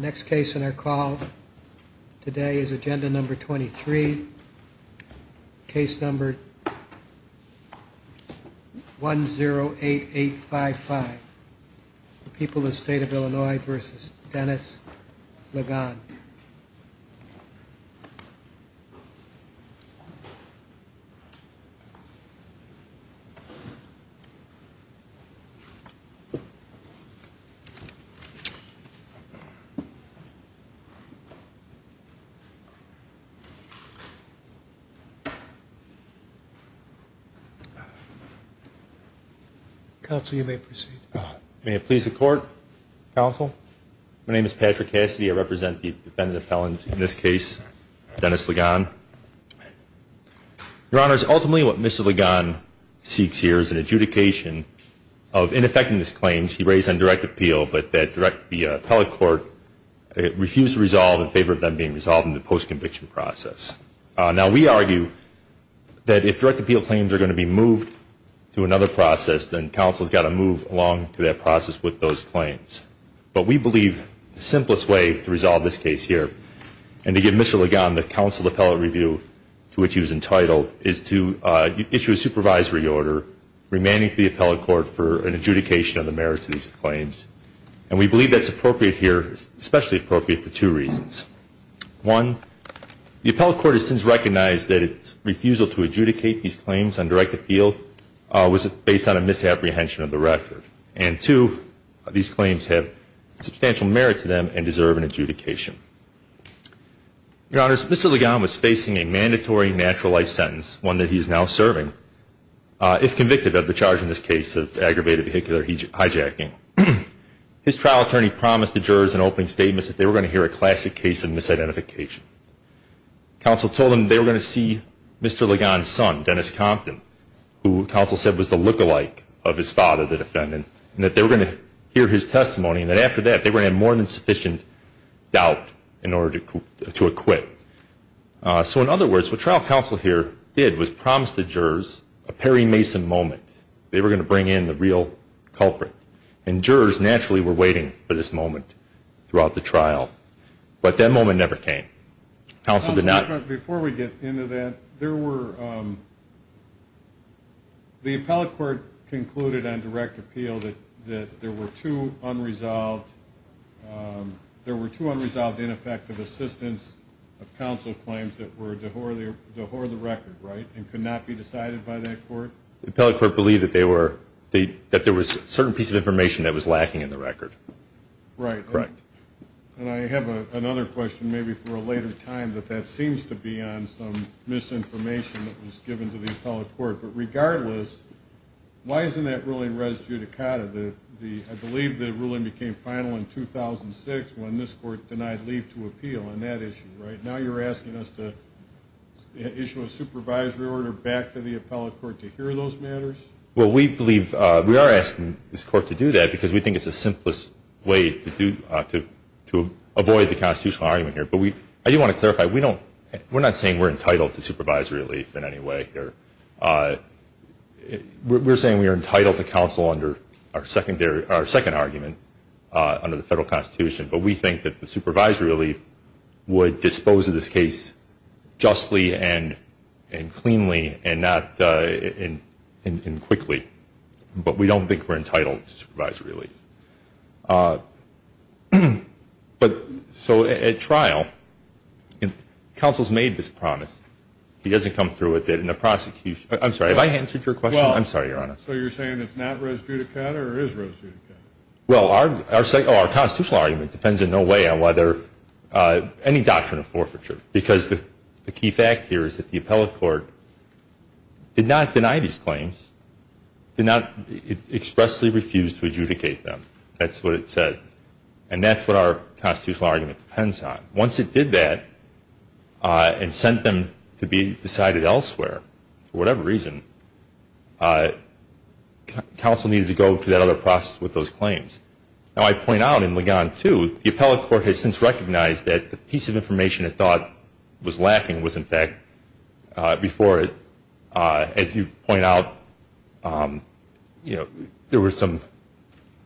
Next case in our call today is agenda number 23, case number 108855, People of State of Illinois v. Dennis Ligon. My name is Patrick Cassidy. I represent the defendant appellant in this case, Dennis Ligon. Your Honors, ultimately what Mr. Ligon seeks here is an adjudication of ineffectiveness claims he raised on direct appeal but that the appellate court refused to resolve in favor of them being resolved in the post-conviction process. Now we argue that if direct appeal claims are going to be moved to another process, then counsel has got to move along to that process with those claims. But we believe the simplest way to resolve this case here and to give Mr. Ligon the counsel appellate review to which he was entitled is to issue a supervisory order remanding to the appellate court for an adjudication of the merit to these claims. And we believe that's appropriate here, especially appropriate for two reasons. One, the appellate court has since recognized that its refusal to adjudicate these claims on direct appeal was based on a misapprehension of the record. And two, these claims have substantial merit to them and deserve an adjudication. Your Honors, Mr. Ligon was facing a mandatory natural life sentence, one that he is now serving, if convicted of the charge in this case of aggravated vehicular hijacking. His trial attorney promised the jurors an opening statement that they were going to hear a classic case of misidentification. Counsel told them they were going to see Mr. Ligon's son, Dennis Compton, who counsel said was the lookalike of his father, the defendant, and that they were going to hear his testimony and that after that they were going to have more than sufficient doubt in order to acquit. So in other words, what trial counsel here did was promise the jurors a Perry Mason moment. They were going to bring in the real culprit. And jurors naturally were waiting for this moment throughout the trial. But that moment never came. Counsel did not- Before we get into that, there were, the appellate court concluded on direct appeal that there were two unresolved, there were two unresolved ineffective assistance of counsel claims that were to whore the record, right, and could not be decided by that court? The appellate court believed that there was a certain piece of information that was lacking in the record. Right. Correct. And I have another question, maybe for a later time, that that seems to be on some misinformation that was given to the appellate court. But regardless, why isn't that ruling res judicata? I believe the ruling became final in 2006 when this court denied leave to appeal on that issue, right? Now you're asking us to issue a supervisory order back to the appellate court to hear those matters? Well, we believe, we are asking this court to do that because we think it's the simplest way to do, to avoid the constitutional argument here. But we, I do want to clarify, we don't, we're not saying we're entitled to supervisory relief in any way here. We're saying we are entitled to counsel under our secondary, our second argument under the federal constitution. But we think that the supervisory relief would dispose of this case justly and cleanly and not, and quickly. But we don't think we're entitled to supervisory relief. But so at trial, counsel's made this promise. He doesn't come through with it in a prosecution. I'm sorry, have I answered your question? I'm sorry, Your Honor. So you're saying it's not res judicata or is res judicata? Well, our second, our constitutional argument depends in no way on whether, any doctrine of forfeiture. Because the key fact here is that the appellate court did not deny these claims, did not expressly refuse to adjudicate them. That's what it said. And that's what our constitutional argument depends on. Once it did that, and sent them to be decided elsewhere, for whatever reason, counsel needed to go through that other process with those claims. Now, I point out in Ligon 2, the appellate court has since recognized that the piece of information it thought was lacking was, in fact, before it. As you point out, there was some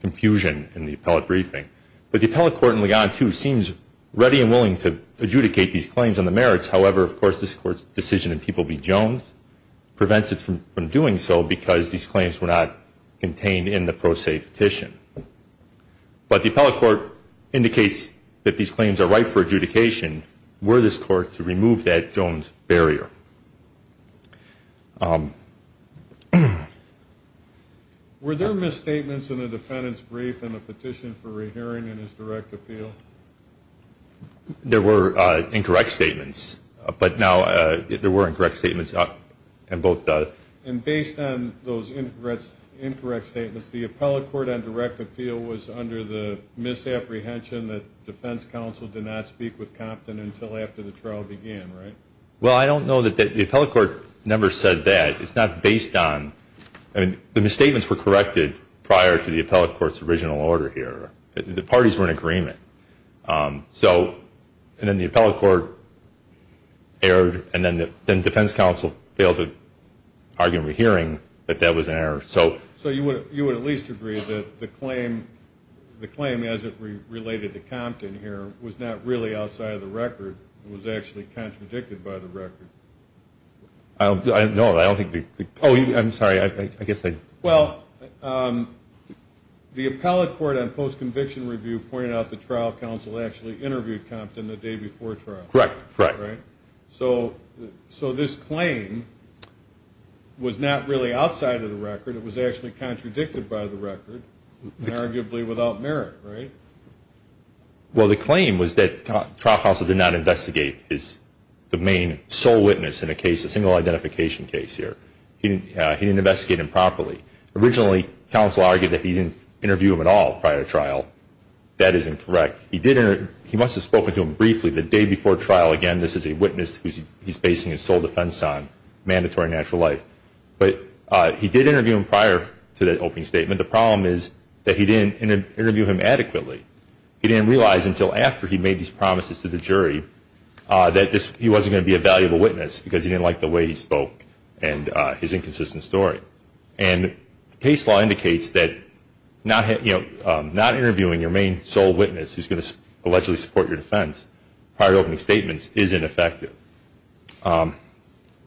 confusion in the appellate briefing. But the appellate court in Ligon 2 seems ready and willing to adjudicate these claims on the merits. However, of course, this Court's objection, P.B. Jones, prevents it from doing so because these claims were not contained in the pro se petition. But the appellate court indicates that these claims are right for adjudication were this Court to remove that Jones barrier. Were there misstatements in the defendant's brief in the petition for re-hearing in his direct appeal? There were incorrect statements. But now, there were incorrect statements. And based on those incorrect statements, the appellate court on direct appeal was under the misapprehension that defense counsel did not speak with Compton until after the trial began, right? Well, I don't know that the appellate court never said that. It's not based on. I mean, the misstatements were corrected prior to the appellate court's original order here. The parties were in agreement. So, and then the appellate court erred and then defense counsel failed to argue in re-hearing that that was an error. So, you would at least agree that the claim as it related to Compton here was not really outside of the record. It was actually contradicted by the record. No, I don't think. Oh, I'm sorry. I guess I. Well, the appellate court on post-conviction review pointed out that trial counsel actually interviewed Compton the day before trial. Correct. Right? So, this claim was not really outside of the record. It was actually contradicted by the record and arguably without merit, right? Well, the claim was that trial counsel did not investigate the main sole witness in a single identification case here. He didn't investigate him properly. Originally, counsel argued that he didn't interview him at all prior to trial. That is incorrect. He must have spoken to him briefly the day before trial. Again, this is a witness who he's basing his sole defense on, mandatory natural life. But he did interview him prior to the opening statement. The problem is that he didn't interview him adequately. He didn't realize until after he made these promises to the jury that he wasn't going to be a valuable witness because he didn't like the way he spoke and his inconsistent story. And the case law indicates that not interviewing your main sole witness who's going to allegedly support your defense prior to opening statements is ineffective.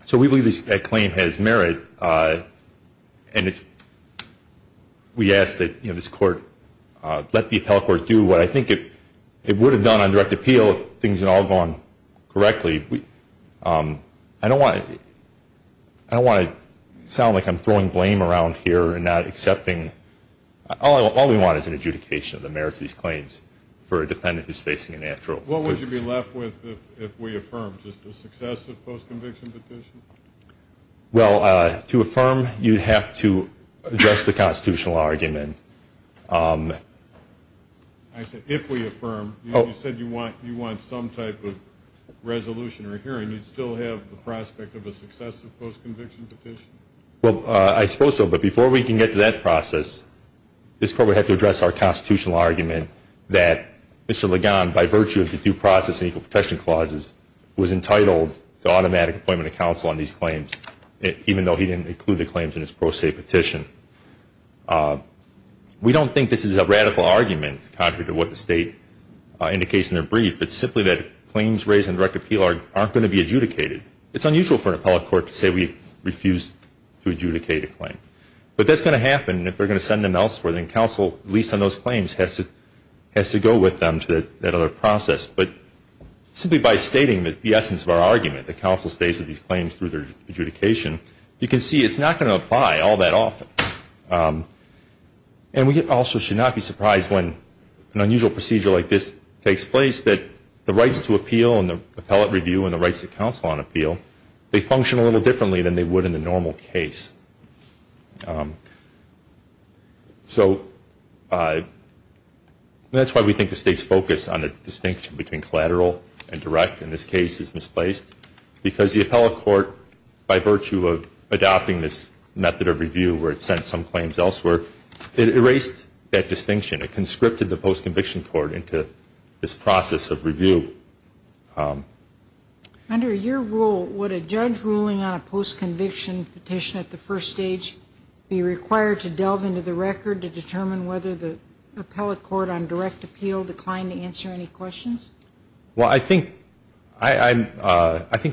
So, we believe that claim has merit. And we ask that this court let the appellate court do what I think it would have done on correctly. I don't want to sound like I'm throwing blame around here and not accepting. All we want is an adjudication of the merits of these claims for a defendant who's facing a natural. What would you be left with if we affirmed? Just a successive post-conviction petition? Well, to affirm, you'd have to address the constitutional argument. I said, if we affirm. You said you want some type of resolution or hearing. You'd still have the prospect of a successive post-conviction petition? Well, I suppose so. But before we can get to that process, this court would have to address our constitutional argument that Mr. Ligon, by virtue of the due process and equal protection clauses, was entitled to automatic appointment of counsel on these claims, even though he didn't include the claims in his pro se petition. We don't think this is a radical argument contrary to what the state indicates in their brief. It's simply that claims raised in direct appeal aren't going to be adjudicated. It's unusual for an appellate court to say we refuse to adjudicate a claim. But that's going to happen, and if they're going to send them elsewhere, then counsel, at least on those claims, has to go with them to that other process. But simply by stating the essence of our argument, that counsel stays with these claims through their adjudication, you can see it's not going to apply all that often. And we also should not be surprised when an unusual procedure like this takes place, that the rights to appeal and the appellate review and the rights to counsel on appeal, they function a little differently than they would in the normal case. So that's why we think the state's focus on the distinction between collateral and direct in this case is misplaced, because the appellate court, by virtue of adopting this method of review where it sent some claims elsewhere, it erased that distinction. It conscripted the post-conviction court into this process of review. Under your rule, would a judge ruling on a post-conviction petition at the first stage be required to delve into the record to determine whether the appellate court on direct appeal declined to answer any questions? Well, I think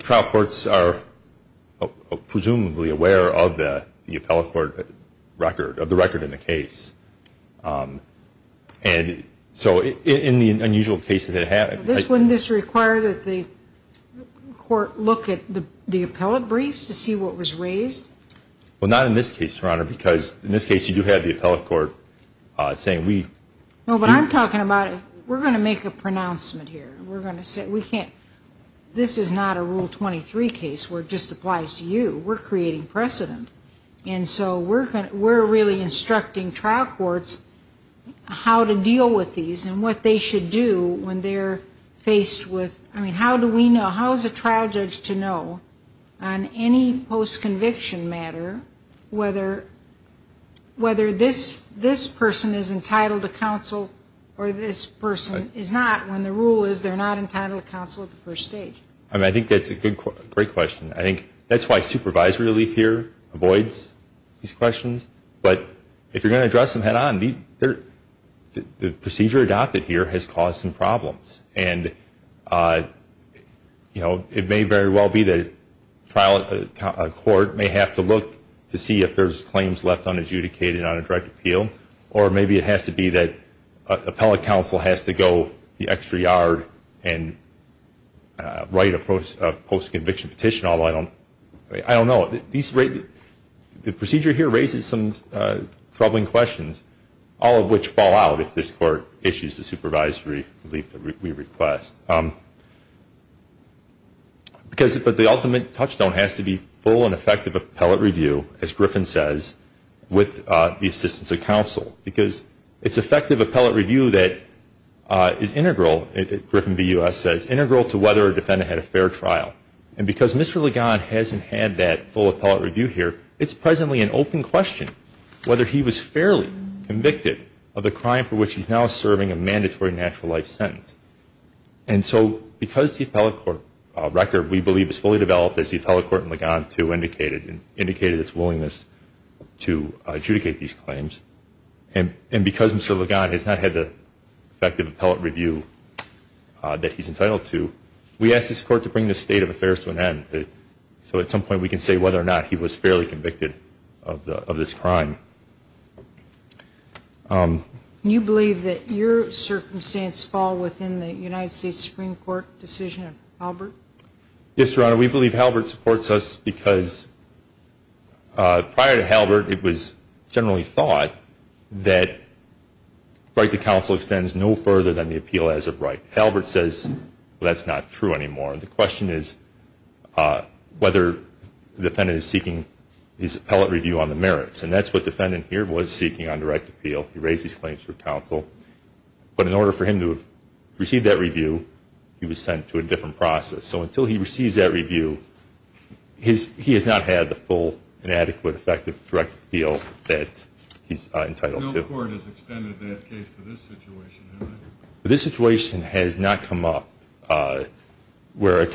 trial courts are presumably aware of the appellate court record, of the record in the case. And so in the unusual case that it happened. Wouldn't this require that the court look at the appellate briefs to see what was raised? Well, not in this case, Your Honor, because in this case you do have the appellate court saying we... No, but I'm talking about we're going to make a pronouncement here. We're going to say we can't... This is not a Rule 23 case where it just applies to you. We're creating precedent. And so we're really instructing trial courts how to deal with these and what they should do when they're faced with... I mean, how do we know, how is a trial judge to know on any post-conviction matter whether this person is entitled to counsel or this person is not when the rule is they're not entitled to counsel at the first stage? I mean, I think that's a great question. I think that's why supervisory relief here avoids these questions. But if you're going to address them head on, the procedure adopted here has caused some problems. And, you know, it may very well be that a court may have to look to see if there's claims left unadjudicated on a direct appeal. Or maybe it has to be that appellate counsel has to go the extra yard and write a post-conviction petition, although I don't know. The procedure here raises some troubling questions, all of which fall out if this Court issues the supervisory relief that we request. But the ultimate touchstone has to be full and effective appellate review, as Griffin says, with the assistance of counsel. Because it's effective appellate review that is integral, as Griffin v. U.S. says, integral to whether a defendant had a fair trial. And because Mr. Ligon hasn't had that full appellate review here, it's presently an open question whether he was fairly convicted of the crime for which he's now serving a mandatory natural life sentence. And so because the appellate court record, we believe, is fully developed, as the appellate court in Ligon 2 indicated and indicated its willingness to adjudicate these claims, and because Mr. Ligon has not had the effective appellate review that he's entitled to, we ask this Court to bring this state of affairs to an end, so at some point we can say whether or not he was fairly convicted of this crime. Do you believe that your circumstance fall within the United States Supreme Court decision of Halbert? Yes, Your Honor, we believe Halbert supports us because prior to Halbert, it was generally thought that right to counsel extends no further than the appeal as of right. But Halbert says that's not true anymore. The question is whether the defendant is seeking his appellate review on the merits, and that's what the defendant here was seeking on direct appeal. He raised his claims for counsel. But in order for him to have received that review, he was sent to a different process. So until he receives that review, he has not had the full and adequate effective direct appeal that he's entitled to. No court has extended that case to this situation, has it? This situation has not come up where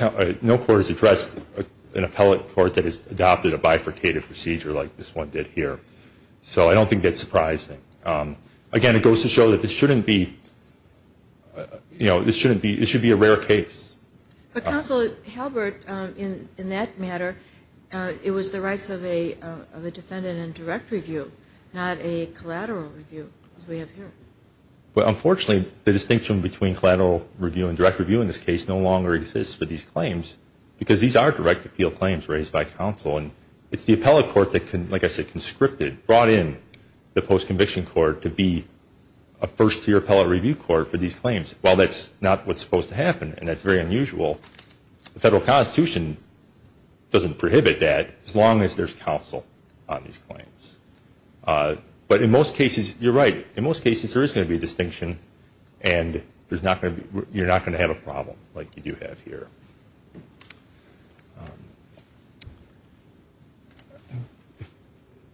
no court has addressed an appellate court that has adopted a bifurcated procedure like this one did here. So I don't think that's surprising. Again, it goes to show that this shouldn't be a rare case. But, Counsel, Halbert, in that matter, it was the rights of a defendant in direct review, not a collateral review as we have here. But, unfortunately, the distinction between collateral review and direct review in this case no longer exists for these claims because these are direct appeal claims raised by counsel. And it's the appellate court that, like I said, conscripted, brought in the post-conviction court to be a first-tier appellate review court for these claims. Well, that's not what's supposed to happen, and that's very unusual. The Federal Constitution doesn't prohibit that as long as there's counsel on these claims. But in most cases, you're right. In most cases, there is going to be a distinction, and you're not going to have a problem like you do have here.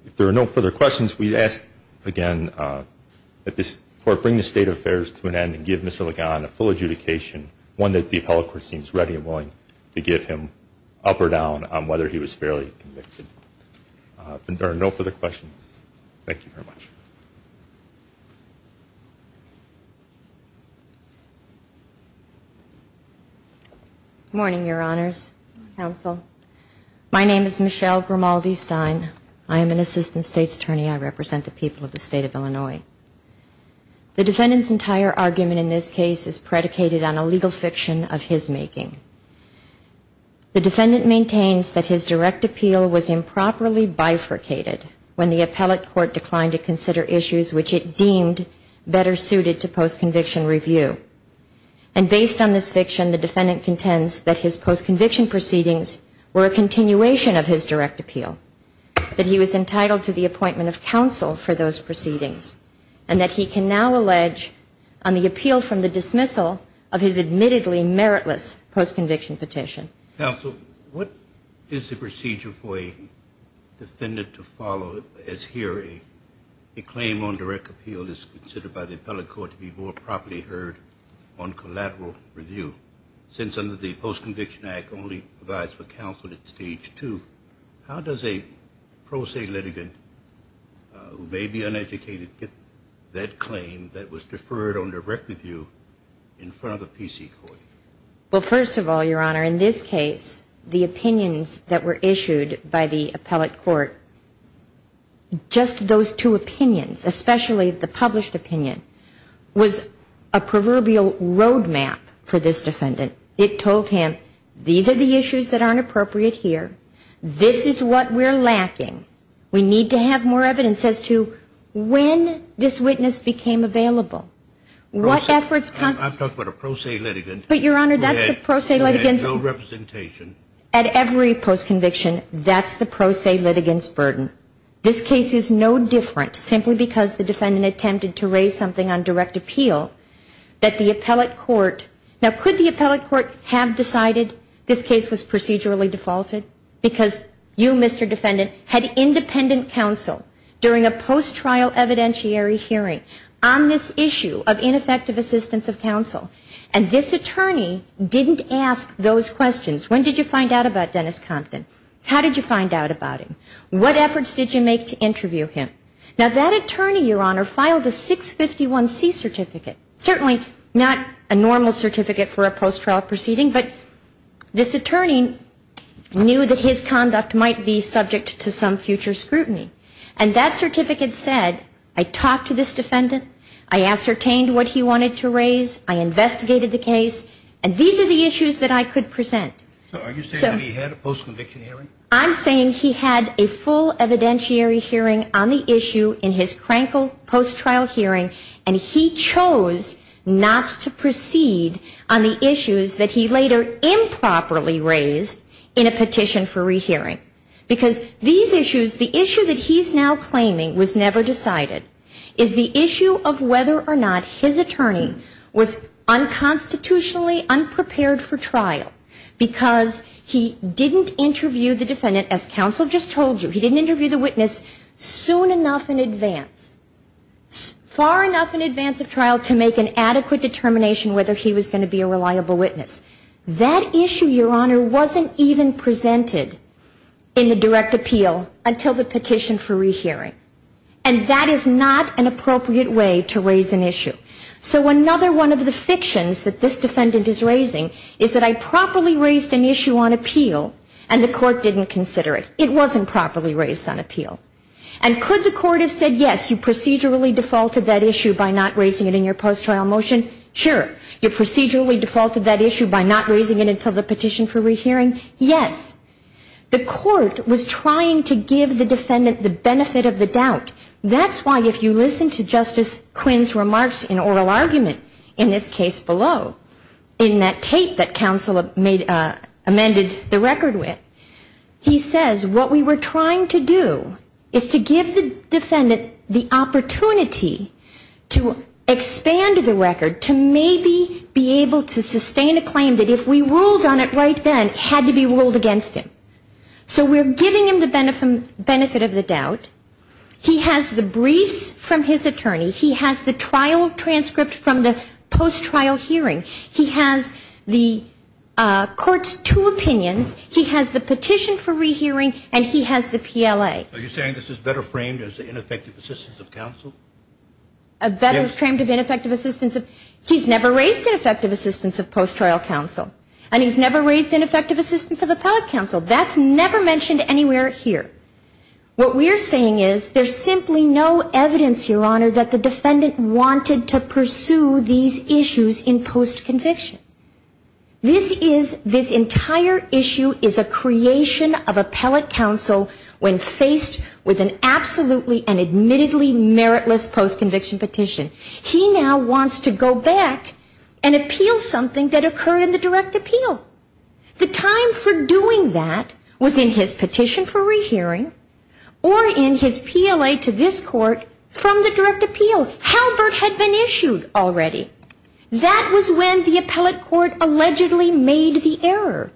If there are no further questions, we ask, again, that this Court bring the State Affairs to an end and give Mr. Legan a full adjudication, one that the appellate court seems ready and willing to give him up or down on whether he was fairly convicted. If there are no further questions, thank you very much. Good morning, Your Honors, Counsel. My name is Michelle Grimaldi-Stein. I am an Assistant State's Attorney. I represent the people of the State of Illinois. The defendant's entire argument in this case is predicated on a legal fiction of his making. The defendant maintains that his direct appeal was improperly bifurcated when the appellate court declined to consider issues which it deemed better suited to post-conviction review. And based on this fiction, the defendant contends that his post-conviction proceedings were a continuation of his direct appeal, that he was entitled to the appointment of counsel for those proceedings, and that he can now allege on the appeal from the dismissal of his admittedly meritless post-conviction petition. Counsel, what is the procedure for a defendant to follow as hearing a claim on direct appeal that's considered by the appellate court to be more properly heard on collateral review? Since under the Post-Conviction Act only provides for counsel at Stage 2, how does a pro se litigant who may be uneducated get that claim that was deferred on direct review in front of a PC court? Well, first of all, Your Honor, in this case, the opinions that were issued by the appellate court, just those two opinions, especially the published opinion, was a proverbial roadmap for this defendant. It told him, these are the issues that aren't appropriate here. This is what we're lacking. We need to have more evidence as to when this witness became available. I'm talking about a pro se litigant who had no representation. But, Your Honor, that's the pro se litigant's burden. At every post-conviction, that's the pro se litigant's burden. This case is no different, simply because the defendant attempted to raise something on direct appeal, that the appellate court, now could the appellate court have decided this case was procedurally defaulted? Because you, Mr. Defendant, had independent counsel during a post-trial evidentiary hearing on this issue of ineffective assistance of counsel. And this attorney didn't ask those questions. When did you find out about Dennis Compton? How did you find out about him? What efforts did you make to interview him? Now, that attorney, Your Honor, filed a 651C certificate, certainly not a normal certificate for a post-trial proceeding, but this attorney knew that his conduct might be subject to some future scrutiny. And that certificate said, I talked to this defendant, I ascertained what he wanted to raise, I investigated the case, and these are the issues that I could present. So are you saying that he had a post-conviction hearing? I'm saying he had a full evidentiary hearing on the issue in his Krankel post-trial hearing, and he chose not to proceed on the issues that he later improperly raised in a petition for rehearing. Because these issues, the issue that he's now claiming was never decided, is the issue of whether or not his attorney was unconstitutionally unprepared for trial, because he didn't interview the defendant, as counsel just told you, he didn't interview the witness soon enough in advance, far enough in advance of trial to make an adequate determination whether he was going to be a reliable witness. That issue, Your Honor, wasn't even presented in the direct appeal until the petition for rehearing. And that is not an appropriate way to raise an issue. So another one of the fictions that this defendant is raising is that I properly raised an issue on appeal and the court didn't consider it. It wasn't properly raised on appeal. And could the court have said, yes, you procedurally defaulted that issue by not raising it in your post-trial motion? Sure. You procedurally defaulted that issue by not raising it until the petition for rehearing? Yes. The court was trying to give the defendant the benefit of the doubt. That's why if you listen to Justice Quinn's remarks in oral argument in this case below, in that tape that counsel amended the record with, he says what we were trying to do is to give the defendant the opportunity to expand the record, to maybe be able to sustain a claim that if we ruled on it right then, it had to be ruled against him. So we're giving him the benefit of the doubt. He has the briefs from his attorney. He has the trial transcript from the post-trial hearing. He has the court's two opinions. He has the petition for rehearing. And he has the PLA. Are you saying this is better framed as ineffective assistance of counsel? Yes. A better framed of ineffective assistance. He's never raised ineffective assistance of post-trial counsel. And he's never raised ineffective assistance of appellate counsel. That's never mentioned anywhere here. What we're saying is there's simply no evidence, Your Honor, that the defendant wanted to pursue these issues in post-conviction. This is, this entire issue is a creation of appellate counsel when faced with an absolutely and admittedly meritless post-conviction petition. He now wants to go back and appeal something that occurred in the direct appeal. The time for doing that was in his petition for rehearing or in his PLA to this court from the direct appeal. Halbert had been issued already. That was when the appellate court allegedly made the error.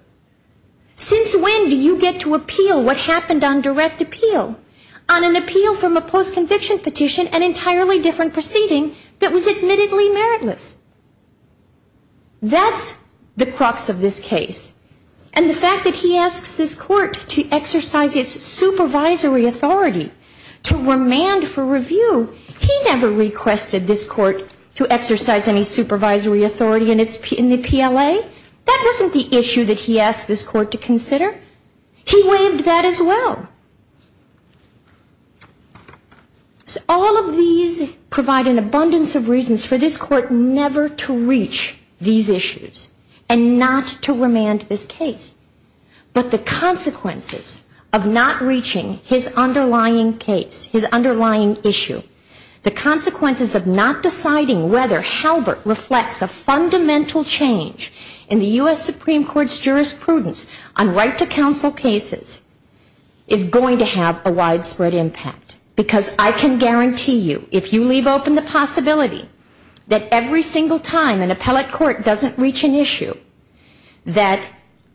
Since when do you get to appeal what happened on direct appeal? On an appeal from a post-conviction petition, an entirely different proceeding that was admittedly meritless. That's the crux of this case. And the fact that he asks this court to exercise its supervisory authority to remand for review, he never requested this court to exercise any supervisory authority in the PLA. That wasn't the issue that he asked this court to consider. He waived that as well. So all of these provide an abundance of reasons for this court never to reach these issues and not to remand this case. But the consequences of not reaching his underlying case, his underlying issue, the consequences of not deciding whether Halbert reflects a fundamental change in the U.S. Supreme Court's is going to have a widespread impact because I can guarantee you if you leave open the possibility that every single time an appellate court doesn't reach an issue that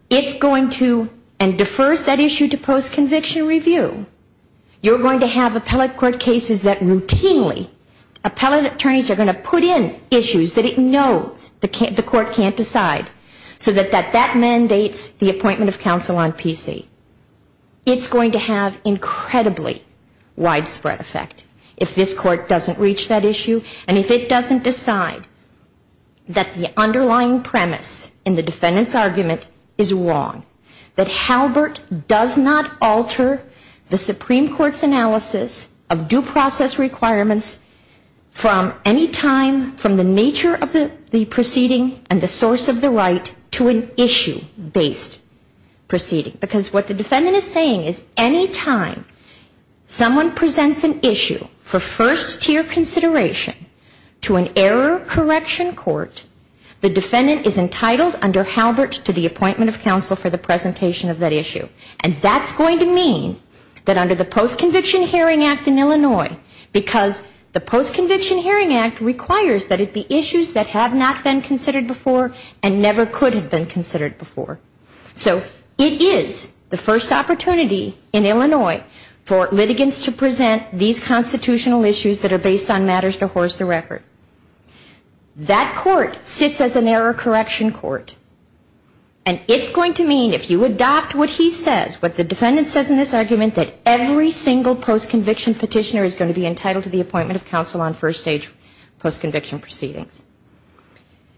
it's going to and defers that issue to post-conviction review, you're going to have appellate court cases that routinely appellate attorneys are going to put in issues that it knows the court can't decide so that that mandates the appointment of counsel on PC. It's going to have incredibly widespread effect if this court doesn't reach that issue and if it doesn't decide that the underlying premise in the defendant's argument is wrong, that Halbert does not alter the Supreme Court's analysis of due process requirements from any time from the nature of the proceeding and the source of the right to an issue-based proceeding. Because what the defendant is saying is any time someone presents an issue for first-tier consideration to an error correction court, the defendant is entitled under Halbert to the appointment of counsel for the presentation of that issue. And that's going to mean that under the Post-Conviction Hearing Act in Illinois, because the Post-Conviction Hearing Act requires that it be issues that have not been considered before and never could have been considered before. So it is the first opportunity in Illinois for litigants to present these constitutional issues that are based on matters to horse the record. That court sits as an error correction court. And it's going to mean if you adopt what he says, what the defendant says in this argument, that every single post-conviction petitioner is going to be entitled to the appointment of counsel on first-stage post-conviction proceedings.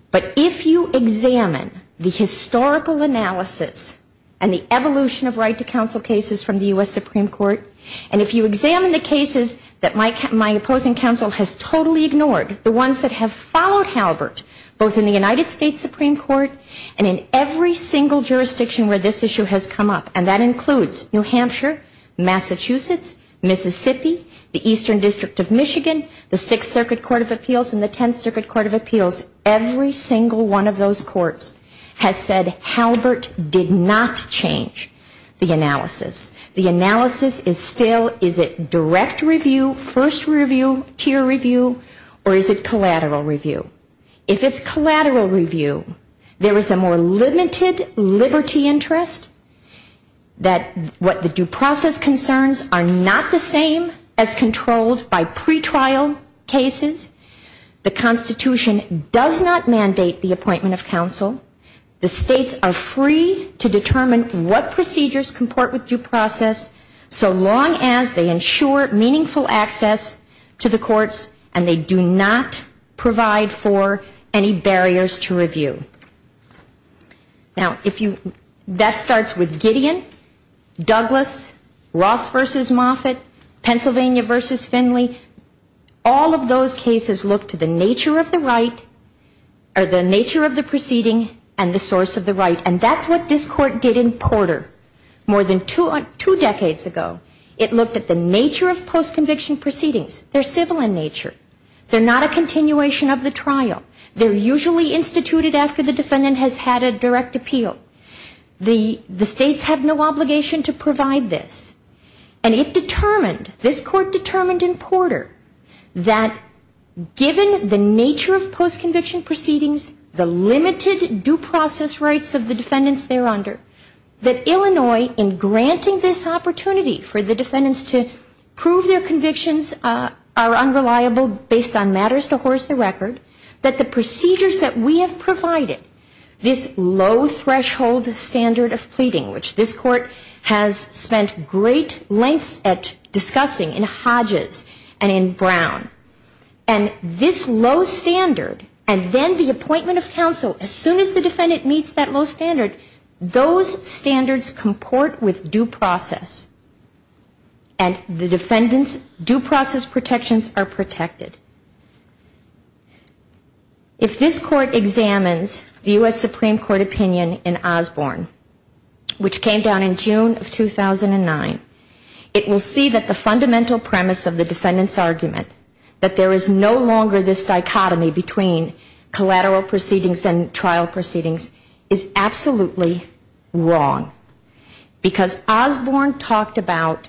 But if you examine the historical analysis and the evolution of right-to-counsel cases from the U.S. Supreme Court, and if you examine the cases that my opposing counsel has totally ignored, the ones that have followed Halbert, both in the United States Supreme Court and in every single jurisdiction where this issue has come up, and that includes New Hampshire, Massachusetts, Mississippi, the Eastern District of Michigan, the Sixth Circuit Court of Appeals and the Tenth Circuit Court of Appeals, every single one of those courts has said Halbert did not change the analysis. The analysis is still, is it direct review, first review, tier review, or is it collateral review? If it's collateral review, there is a more limited liberty interest that what the due process concerns are not the same as controlled by pretrial cases. The Constitution does not mandate the appointment of counsel. The states are free to determine what procedures comport with due process, so long as they ensure meaningful access to the courts and they do not provide for any barriers to review. Now, if you, that starts with Gideon, Douglas, Ross v. Moffitt, Pennsylvania v. Finley, all of those cases look to the nature of the right, or the nature of the proceeding and the source of the right, and that's what this court did in Porter. More than two decades ago, it looked at the nature of post-conviction proceedings. They're civil in nature. They're not a continuation of the trial. They're usually instituted after the defendant has had a direct appeal. The states have no obligation to provide this. And it determined, this court determined in Porter, that given the nature of post-conviction proceedings, the limited due process rights of the defendants there under, that Illinois, in granting this opportunity for the defendants to prove their convictions are unreliable based on matters to horse the record, that the procedures that we have provided, this low threshold standard of pleading, which this court has spent great lengths at discussing in Hodges and in Brown, and this low standard, and then the appointment of counsel as soon as the defendant meets that low standard, those standards comport with due process, and the defendant's due process protections are protected. If this court examines the U.S. Supreme Court opinion in Osborne, which came down in June of 2009, it will see that the fundamental premise of the defendant's argument, that there is no longer this dichotomy between collateral proceedings and trial proceedings, is absolutely wrong. Because Osborne talked about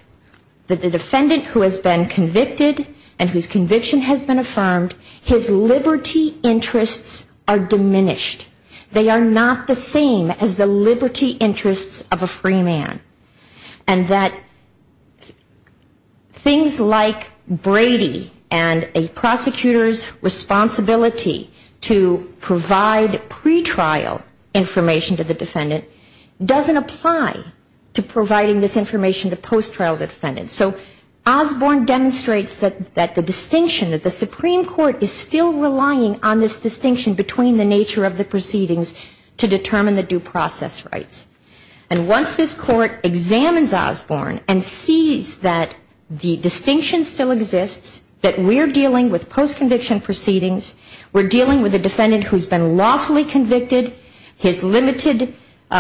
that the defendant who has been convicted and whose conviction has been affirmed, his liberty interests are diminished. They are not the same as the liberty interests of a free man. And that things like Brady and a prosecutor's responsibility to provide pre-trial information to the defendant doesn't apply to providing this information to post-trial defendants. So Osborne demonstrates that the distinction, that the Supreme Court is still relying on this distinction between the nature of the proceedings to determine the due process rights. And once this court examines Osborne and sees that the distinction still exists, that we're dealing with post-conviction proceedings, we're dealing with a defendant who's been lawfully convicted, his limited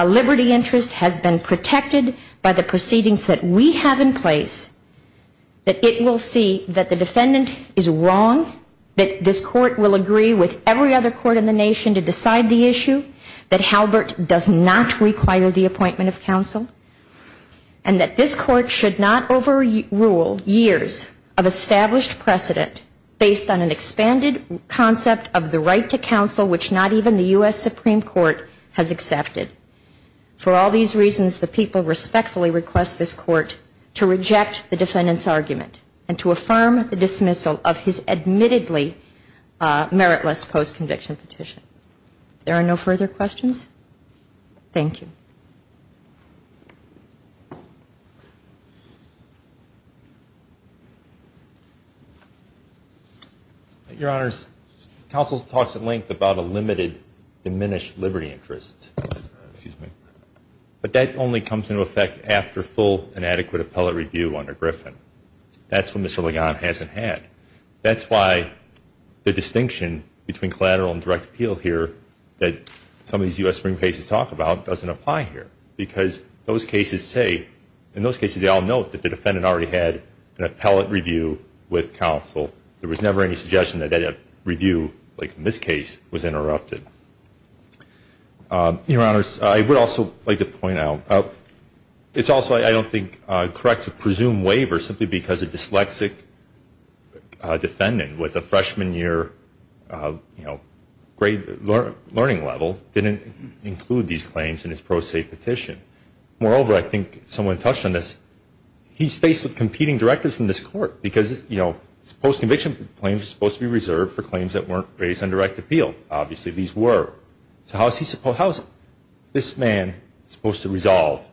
liberty interest has been protected by the proceedings that we have in place, that it will see that the defendant is wrong, that this court will agree with every other court in the nation to decide the issue, that Halbert does not require the appointment of counsel, and that this court should not overrule years of established precedent based on an expanded concept of the right to counsel which not even the U.S. Supreme Court has accepted. For all these reasons, the people respectfully request this court to reject the defendant's argument and to affirm the dismissal of his admittedly meritless post-conviction petition. If there are no further questions, thank you. Your Honors, counsel talks at length about a limited diminished liberty interest. But that only comes into effect after full and adequate appellate review under Griffin. That's what Mr. Ligon hasn't had. That's why the distinction between collateral and direct appeal here that some of these U.S. Supreme cases talk about doesn't apply here because those cases say, in those cases they all note that the defendant already had an appellate review with counsel. There was never any suggestion that that review, like in this case, was interrupted. Your Honors, I would also like to point out, it's also, I don't think, correct to presume waiver simply because a dyslexic defendant with a freshman year grade learning level didn't include these claims in his pro se petition. Moreover, I think someone touched on this, he's faced with competing directors from this court because post-conviction claims are supposed to be reserved for claims that weren't raised on direct appeal. Obviously these were. So how is this man supposed to resolve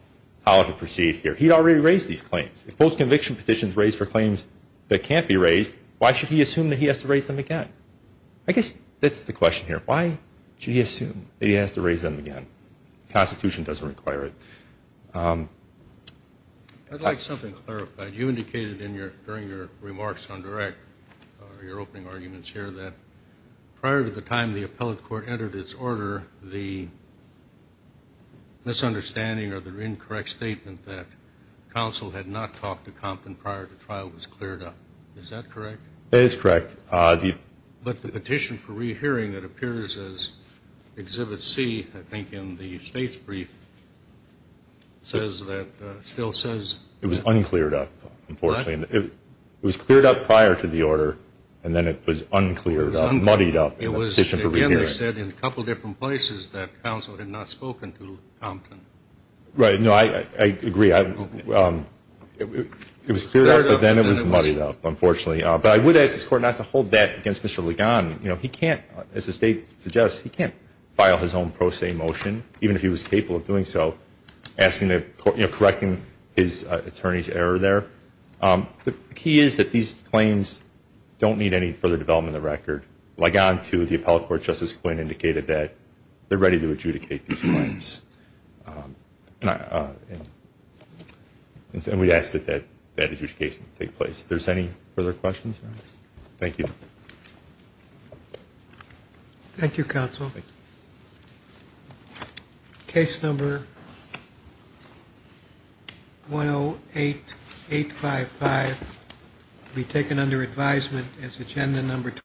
how to proceed here? He already raised these claims. If post-conviction petitions are raised for claims that can't be raised, why should he assume that he has to raise them again? I guess that's the question here. Why should he assume that he has to raise them again? The Constitution doesn't require it. I'd like something clarified. You indicated in your, during your remarks on direct, your opening arguments here, that prior to the time the appellate court entered its order, the misunderstanding or the incorrect statement that counsel had not talked to Compton prior to trial was cleared up. Is that correct? It is correct. But the petition for re-hearing that appears as Exhibit C, I think in the state's brief, says that, still says... It was un-cleared up, unfortunately. It was cleared up prior to the order and then it was un-cleared up, muddied up in the petition for re-hearing. It was, again, they said in a couple different places that counsel had not spoken to Compton. Right, no, I agree. It was cleared up, but then it was muddied up, unfortunately. But I would ask this Court not to hold that against Mr. Ligon. You know, he can't, as the state suggests, he can't file his own pro se motion, even if he was capable of doing so, asking the, you know, correcting his attorney's error there. The key is that these claims don't need any further development of the record. Mr. Ligon to the appellate court, Justice Quinn, indicated that they're ready to adjudicate these claims. And we ask that that adjudication take place. If there's any further questions, thank you. Thank you, counsel. Case number 108-855, be taken under advisement as agenda number.